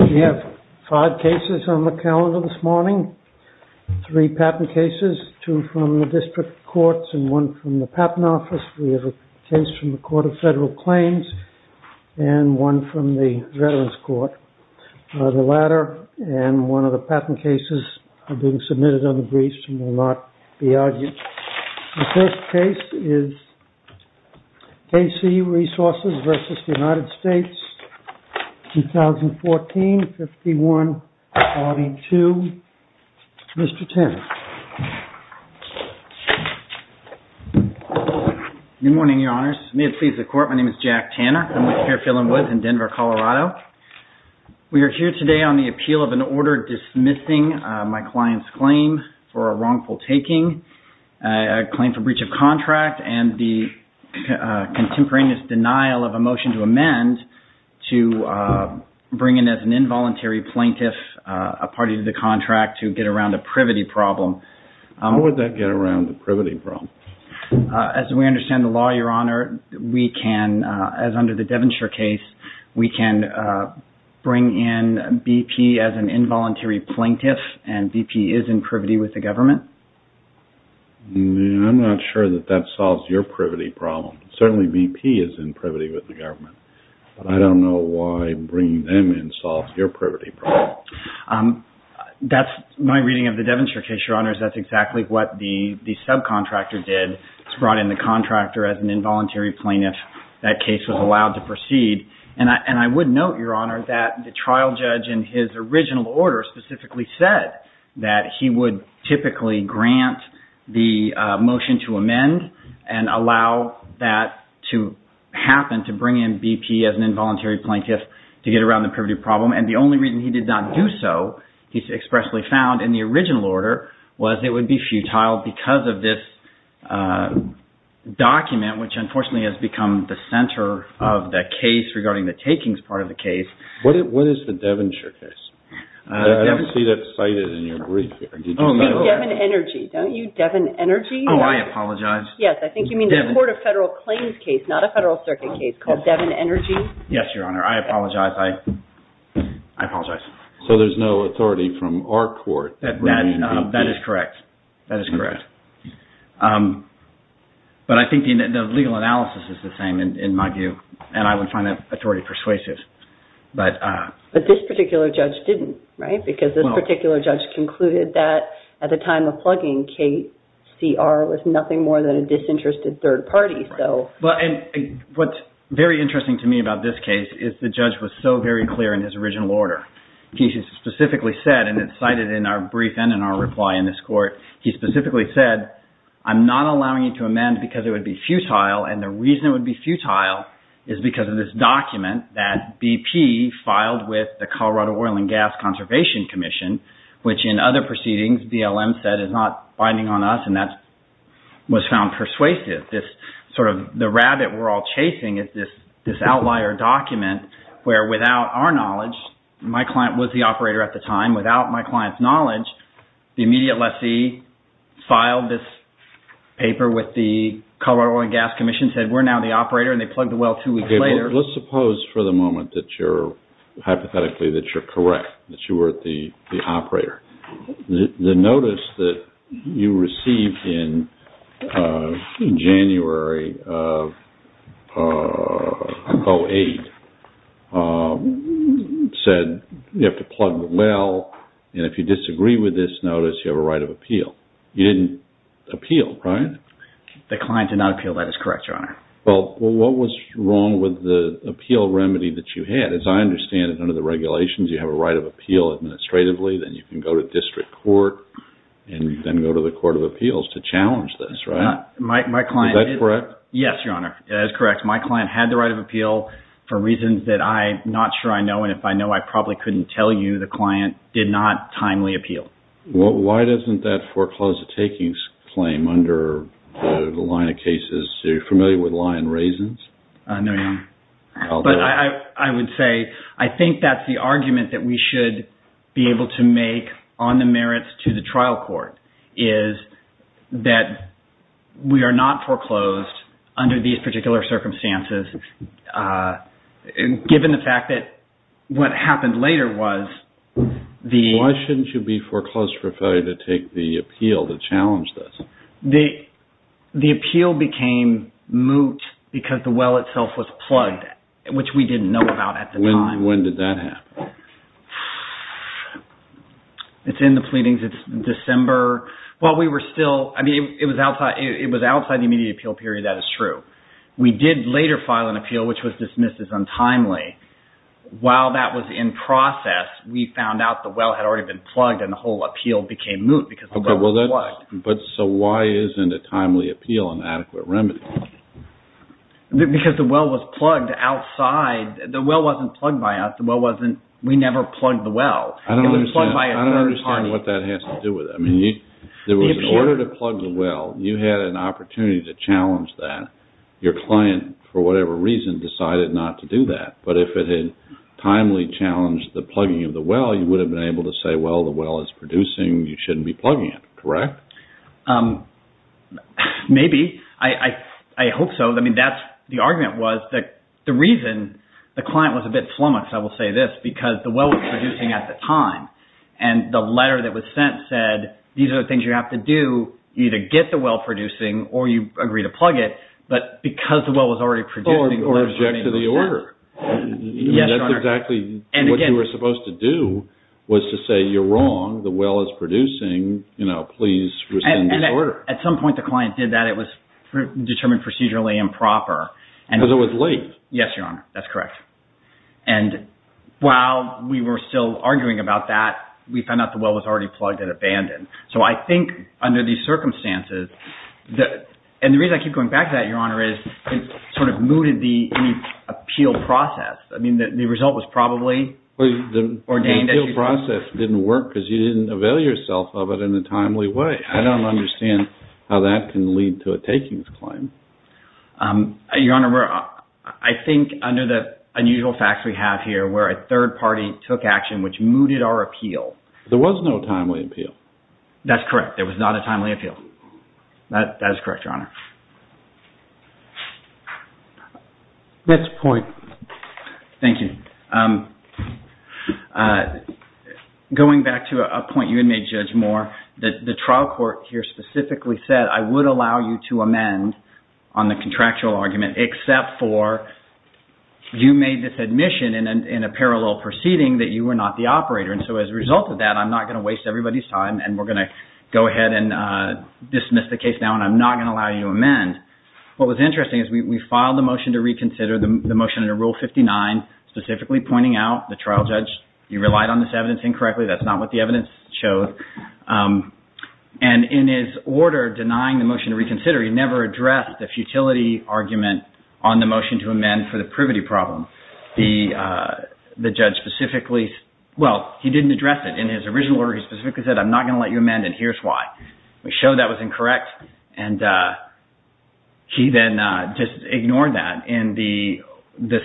We have five cases on the calendar this morning, three patent cases, two from the district courts and one from the Patent Office. We have a case from the Court of Federal Claims and one from the Veterans Court. The latter and one of the patent cases are being submitted under briefs and will not be argued. The first case is KC Resources v. United States, 2014-51-42. Mr. Tanner. Good morning, Your Honors. May it please the Court, my name is Jack Tanner. I'm with Fairfield & Woods in Denver, Colorado. We are here today on the appeal of an order dismissing my client's claim for a wrongful taking, a claim for breach of contract and the contemporaneous denial of a motion to amend to bring in as an involuntary plaintiff a party to the contract to get around a privity problem. How would that get around a privity problem? As we understand the law, Your Honor, we can, as under the Devonshire case, we can bring in BP as an involuntary plaintiff and BP is in privity with the government. I'm not sure that that solves your privity problem. Certainly BP is in privity with the government, but I don't know why bringing them in solves your privity problem. That's my reading of the Devonshire case, Your Honors. That's exactly what the subcontractor did. He brought in the contractor as an involuntary plaintiff. That case was allowed to proceed. I would note, Your Honor, that the trial judge in his original order specifically said that he would typically grant the motion to amend and allow that to happen, to bring in BP as an involuntary plaintiff to get around the privity problem. The only reason he did not do so, he expressly found in the original order, was it would be futile because of this document which unfortunately has become the center of the case regarding the takings part of the case. What is the Devonshire case? I don't see that cited in your brief. It would be Devon Energy. Don't you, Devon Energy? Oh, I apologize. Yes, I think you mean the Court of Federal Claims case, not a Federal Circuit case, called Devon Energy. Yes, Your Honor. I apologize. I apologize. So there's no authority from our court that would be BP? That is correct. That is correct. But I think the legal analysis is the same in my view, and I would find that authority persuasive. But this particular judge didn't, right? Because this particular judge concluded that at the time of plugging, KCR was nothing more than a disinterested third party. What's very interesting to me about this case is the judge was so very clear in his original order. He specifically said, and it's cited in our brief and in our reply in this court, he specifically said, I'm not allowing you to amend because it would be futile, and the reason it would be futile is because of this document that BP filed with the Colorado Oil and Gas Conservation Commission, which in other proceedings BLM said is not binding on us, and that was found persuasive. This sort of the rabbit we're all chasing is this outlier document where without our knowledge, my client was the operator at the time, without my client's knowledge, the immediate Let's suppose for the moment that you're, hypothetically, that you're correct, that you were the operator. The notice that you received in January of 08 said you have to plug the well, and if you disagree with this notice, you have a right of appeal. You didn't appeal, right? The client did not appeal. That is correct, Your Honor. Well, what was wrong with the appeal remedy that you had? As I understand it, under the regulations, you have a right of appeal administratively, then you can go to district court, and then go to the court of appeals to challenge this, right? Is that correct? Yes, Your Honor. That is correct. My client had the right of appeal for reasons that I'm not sure I know, and if I know, I probably couldn't tell you the client did not timely appeal. Why doesn't that foreclosed takings claim under the line of cases, you're familiar with lye and raisins? No, Your Honor. But I would say, I think that's the argument that we should be able to make on the merits to the trial court, is that we are not foreclosed under these particular circumstances, given the fact that what happened later was the... Foreclosed for failure to take the appeal to challenge this. The appeal became moot because the well itself was plugged, which we didn't know about at the time. When did that happen? It's in the pleadings. It's December. Well, we were still... I mean, it was outside the immediate appeal period. That is true. We did later file an appeal, which was dismissed as moot because the well was plugged. But so why isn't a timely appeal an adequate remedy? Because the well was plugged outside. The well wasn't plugged by us. The well wasn't... We never plugged the well. I don't understand what that has to do with it. I mean, in order to plug the well, you had an opportunity to challenge that. Your client, for whatever reason, decided not to do that. But if it had timely challenged the plugging of the well, you would have been able to say, well, the well is producing. You shouldn't be plugging it, correct? Maybe. I hope so. I mean, that's... The argument was that the reason the client was a bit flummoxed, I will say this, because the well was producing at the time. And the letter that was sent said, these are the things you have to do. Either get the well producing or you agree to plug it. But because the well was already producing... Or object to the order. Yes, Your Honor. Exactly what you were supposed to do was to say, you're wrong. The well is producing. Please rescind the order. At some point, the client did that. It was determined procedurally improper. Because it was late. Yes, Your Honor. That's correct. And while we were still arguing about that, we found out the well was already plugged and abandoned. So I think under these circumstances... And the reason I keep going back to that, Your Honor, is it sort of mooted the appeal process. I mean, the result was probably ordained... The appeal process didn't work because you didn't avail yourself of it in a timely way. I don't understand how that can lead to a takings claim. Your Honor, I think under the unusual facts we have here, where a third party took action, which mooted our appeal... There was no timely appeal. That's correct. There was not a timely appeal. That is correct, Your Honor. That's a point. Thank you. Going back to a point you had made, Judge Moore, the trial court here specifically said, I would allow you to amend on the contractual argument, except for you made this admission in a parallel proceeding that you were not the operator. And so as a result of that, I'm not going to waste everybody's time, and we're going to go ahead and dismiss the case now, and I'm not going to allow you to amend. What was interesting is we filed the motion to reconsider, the motion under Rule 59, specifically pointing out the trial judge, you relied on this evidence incorrectly. That's not what the evidence showed. And in his order denying the motion to reconsider, he never addressed the futility argument on the motion to amend for the privity problem. The judge specifically... Well, he didn't address it. In his original order, he specifically said, I'm not going to let you amend, and here's why. We showed that was incorrect, and he then just ignored that. In the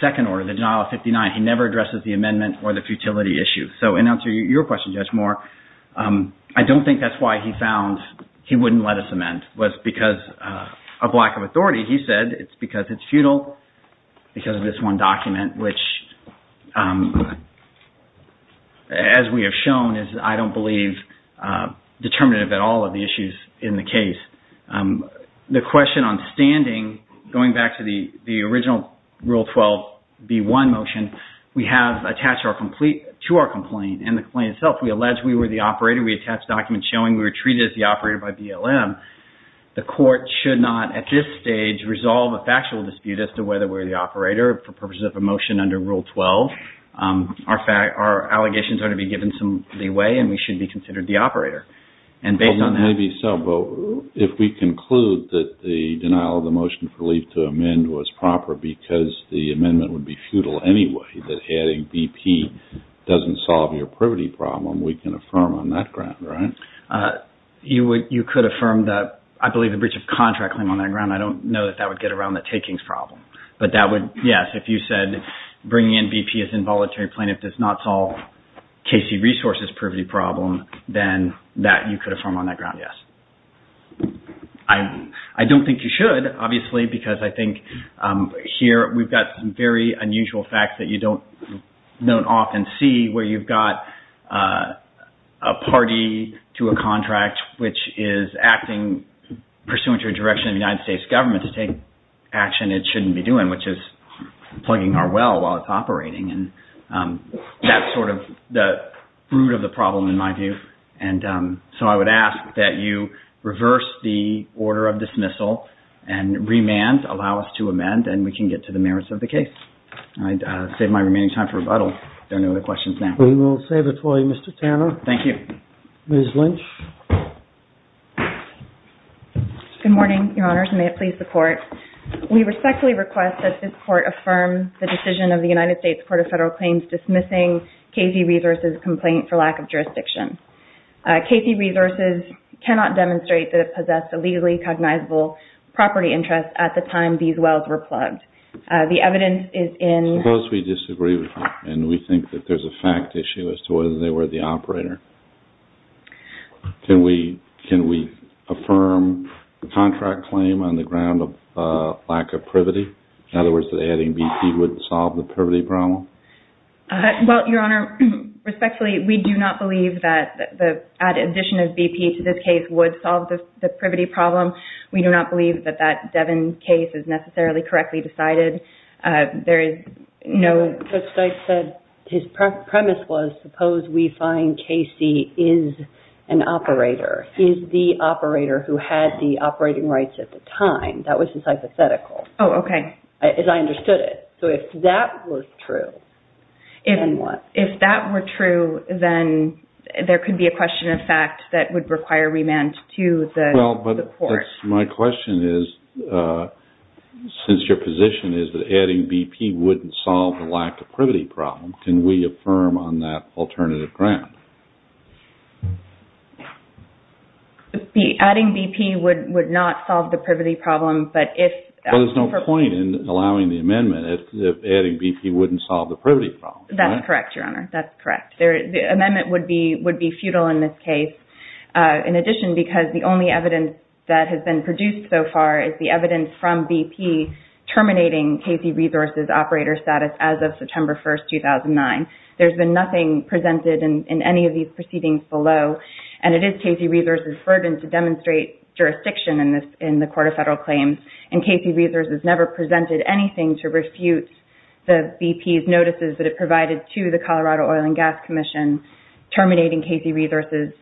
second order, the denial of 59, he never addresses the amendment or the futility issue. So in answer to your question, Judge Moore, I don't think that's why he found he wouldn't let us amend. It was because of lack of authority. He said it's because it's futile because of this which, as we have shown, is, I don't believe, determinative at all of the issues in the case. The question on standing, going back to the original Rule 12, B1 motion, we have attached to our complaint, and the complaint itself, we allege we were the operator. We attached documents showing we were treated as the operator by BLM. The court should not, at this stage, resolve a factual dispute as to whether we're the operator for purposes of a motion under Rule 12. Our allegations are to be given some leeway, and we should be considered the operator. Well, maybe so, but if we conclude that the denial of the motion for leave to amend was proper because the amendment would be futile anyway, that adding BP doesn't solve your privity problem, we can affirm on that ground, right? You could affirm that. I believe the breach of contract claim on that ground. I don't know if that would get around the takings problem, but that would, yes, if you said bringing in BP as involuntary plaintiff does not solve KC Resources' privity problem, then you could affirm on that ground, yes. I don't think you should, obviously, because I think here we've got some very unusual facts that you don't often see where you've got a party to a contract which is acting pursuant to a direction of the United States government to take action it shouldn't be doing, which is plugging our well while it's operating, and that's sort of the root of the problem in my view. And so I would ask that you reverse the order of dismissal and remand, allow us to amend, and we can get to the merits of the case. I'd save my remaining time for rebuttal if there are no other questions now. We will save it for you, Mr. Tanner. Thank you. Ms. Lynch? Good morning, Your Honors, and may it please the Court. We respectfully request that this Court affirm the decision of the United States Court of Federal Claims dismissing KC Resources' complaint for lack of jurisdiction. KC Resources cannot demonstrate that it possessed a legally cognizable property interest at the time these wells were plugged. The evidence is in— Suppose we disagree with you and we think that there's a fact issue as to whether they were the operator. Can we affirm the contract claim on the ground of lack of privity? In other words, that adding BP would solve the privity problem? Well, Your Honor, respectfully, we do not believe that the addition of BP to this case would solve the privity problem. We do not believe that that Devin case is necessarily correctly decided. There is no— The underlying KC is an operator, is the operator who had the operating rights at the time. That was his hypothetical. Oh, okay. As I understood it. So if that was true, then what? If that were true, then there could be a question of fact that would require remand to the Court. My question is, since your position is that adding BP wouldn't solve the lack of privity problem, can we affirm on that alternative ground? Adding BP would not solve the privity problem, but if— There's no point in allowing the amendment if adding BP wouldn't solve the privity problem. That's correct, Your Honor. That's correct. The amendment would be futile in this case. In addition, because the only evidence that has been produced so far is the evidence from BP terminating KC Resources' operator status as of September 1, 2009, there's been nothing presented in any of these proceedings below, and it is KC Resources' burden to demonstrate jurisdiction in the Court of Federal Claims, and KC Resources never presented anything to refute the BP's notices that it provided to the Colorado Oil and Gas Commission terminating KC Resources'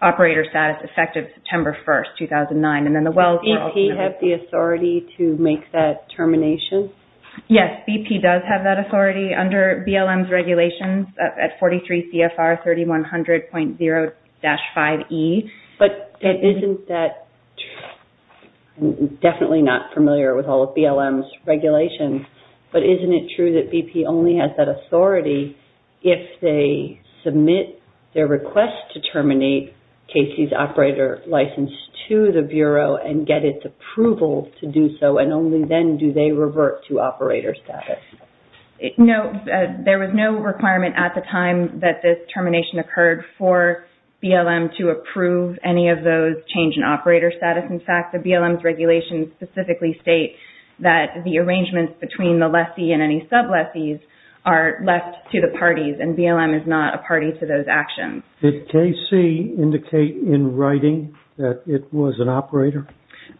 operator status effective September 1, 2009, and then the Wells— Does BP have the authority to make that termination? Yes, BP does have that authority under BLM's regulations at 43 CFR 3100.0-5E. But isn't that—I'm definitely not familiar with all of BLM's regulations, but isn't it true that BP only has that authority if they submit their request to terminate KC's operator license to the Bureau and get its approval to do so, and only then do they revert to operator status? No. There was no requirement at the time that this termination occurred for BLM to approve any of those change in operator status. In fact, the BLM's regulations specifically state that the arrangements between the lessee and any sub-lessees are left to the parties, and BLM is not a party to those actions. Did KC indicate in writing that it was an operator?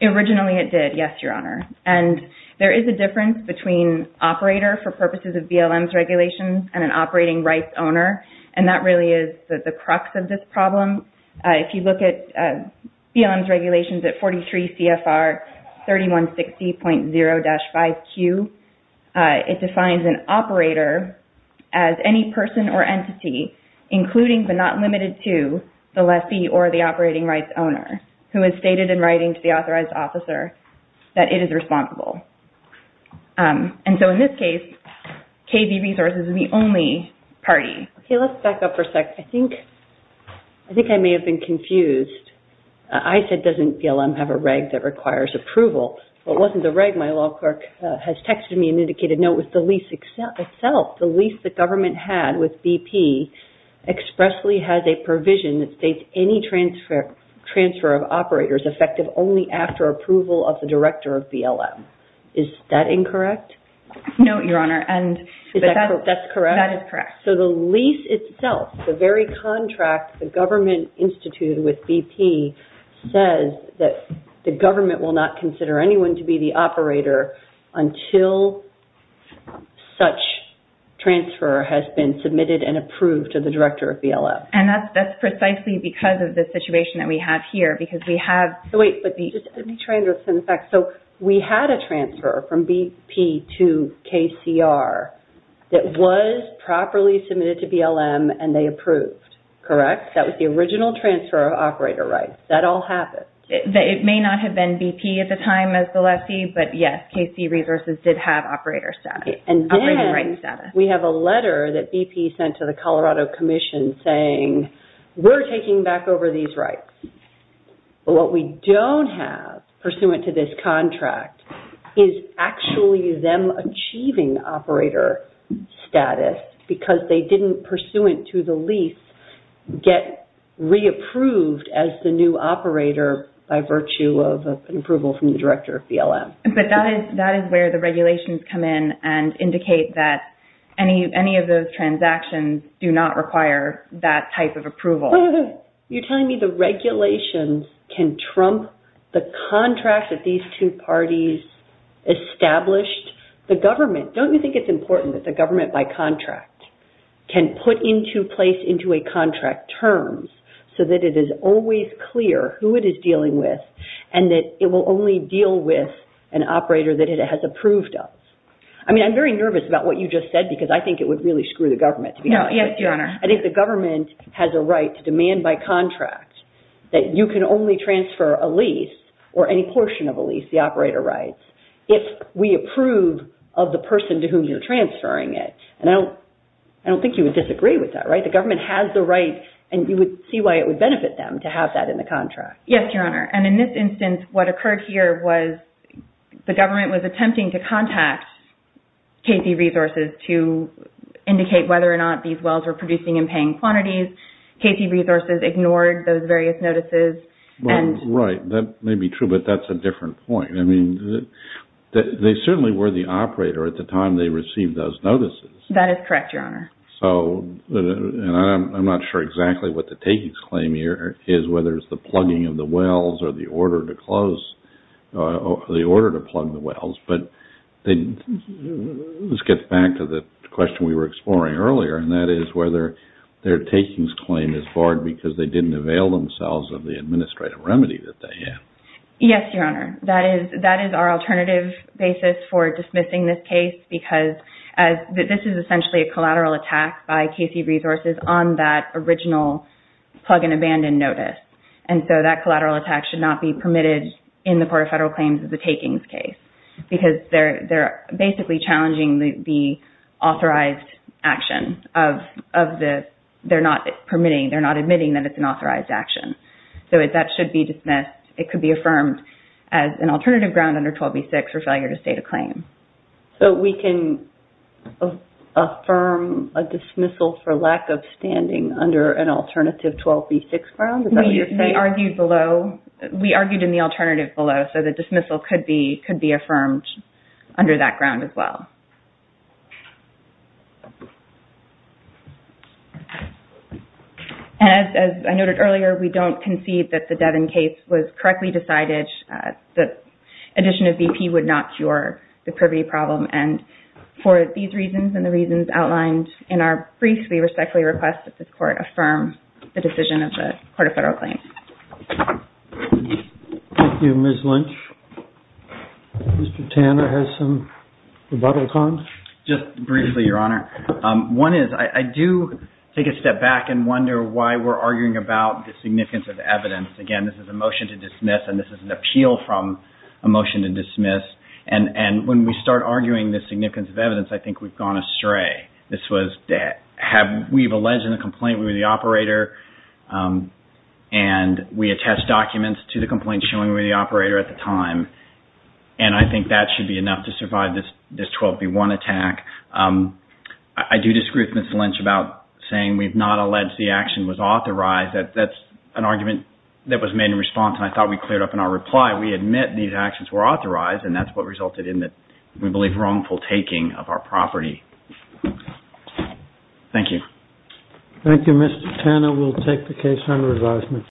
Originally it did, yes, Your Honor. And there is a difference between operator for purposes of BLM's regulations and an operating rights owner, and that really is the crux of this problem. If you look at BLM's regulations at 43 CFR 3160.0-5Q, it defines an operator as any person or entity including but not limited to the lessee or the operating rights owner who has stated in writing to the authorized officer that it is responsible. And so in this case, KB Resources is the only party. Okay, let's back up for a sec. I think I may have been confused. I said doesn't BLM have a reg that requires approval, but it wasn't the reg. My law clerk has texted me an indicated note with the lease itself. The lease the government had with BP expressly has a provision that states any transfer of operators effective only after approval of the director of BLM. Is that incorrect? No, Your Honor, and that is correct. So the lease itself, the very contract the government instituted with BP says that the government will not consider anyone to be the operator until such transfer has been submitted and approved to the director of BLM. And that's precisely because of the situation that we have here because we have... Wait, let me translate some of the facts. So we had a transfer from BP to KCR that was properly submitted to BLM and they approved, correct? That was the original transfer of operators. That all happened. It may not have been BP at the time as the lessee, but yes, KC Resources did have operator status. And then we have a letter that BP sent to the Colorado Commission saying we're taking back over these rights. But what we don't have pursuant to this contract is actually them achieving operator status because they didn't pursuant to the lease get re-approved as the new operator by virtue of an approval from the director of BLM. But that is where the regulations come in and indicate that any of those transactions do not require that type of approval. You're telling me the regulations can trump the contract that these two parties established? The government, don't you think it's important that the government by contract can put into place into a contract terms so that it is always clear who it is dealing with and that it will only deal with an operator that it has approved of? I mean, I'm very nervous about what you just said because I think it would really screw the government to be honest. I think the government has a right to demand by contract that you can only transfer a lease or any portion of a lease, the operator rights, if we approve of the person to whom you're transferring it. And I don't think you would disagree with that, right? The government has the right and you would see why it would benefit them to have that in the contract. Yes, Your Honor. And in this instance, what occurred here was the government was attempting to contact KP Resources to indicate whether or not these wells were producing and paying quantities. KP Resources ignored those various notices. Well, right. That may be true, but that's a different point. I mean, they certainly were the operator at the time they received those notices. That is correct, Your Honor. And I'm not sure exactly what the takings claim here is, whether it's the plugging of the wells or the order to plug the wells. But this gets back to the question we were exploring earlier, and that is whether their takings claim is barred because they didn't avail themselves of the administrative remedy that they had. Yes, Your Honor. That is our alternative basis for dismissing this case because this is essentially a collateral attack by KP Resources on that original plug and abandon notice. And so, that collateral attack should not be permitted in the Port of Federal Claims as a takings case because they're basically challenging the authorized action of the... They're not permitting, they're not admitting that it's an authorized action. So, that should be dismissed. It could be affirmed as an alternative ground under 12b6 for failure to state a claim. So, we can affirm a dismissal for lack of standing under an alternative 12b6 ground? Is that what you're saying? We argued in the alternative below, so the dismissal could be affirmed under that ground as well. And as I noted earlier, we don't concede that the Devin case was correctly decided. The addition of BP would not cure the privy problem. And for these reasons and the reasons outlined in our brief, we respectfully request that this Court affirm the decision of the Port of Federal Claims. Thank you, Ms. Lynch. Mr. Tanner has some rebuttals on? Just briefly, Your Honor. One is, I do take a step back and wonder why we're arguing about the significance of evidence. Again, this is a motion to dismiss and this is an appeal from a motion to dismiss. And when we start arguing the significance of evidence, I think we've This was that we've alleged in the complaint we were the operator and we attest documents to the complaint showing we were the operator at the time. And I think that should be enough to survive this 12b1 attack. I do disagree with Ms. Lynch about saying we've not alleged the action was authorized. That's an argument that was made in response and I thought we cleared up in our reply. We admit these actions were authorized and that's what resulted in the, we believe, wrongful taking of property. Thank you. Thank you, Mr. Tanner. We'll take the case under advisement.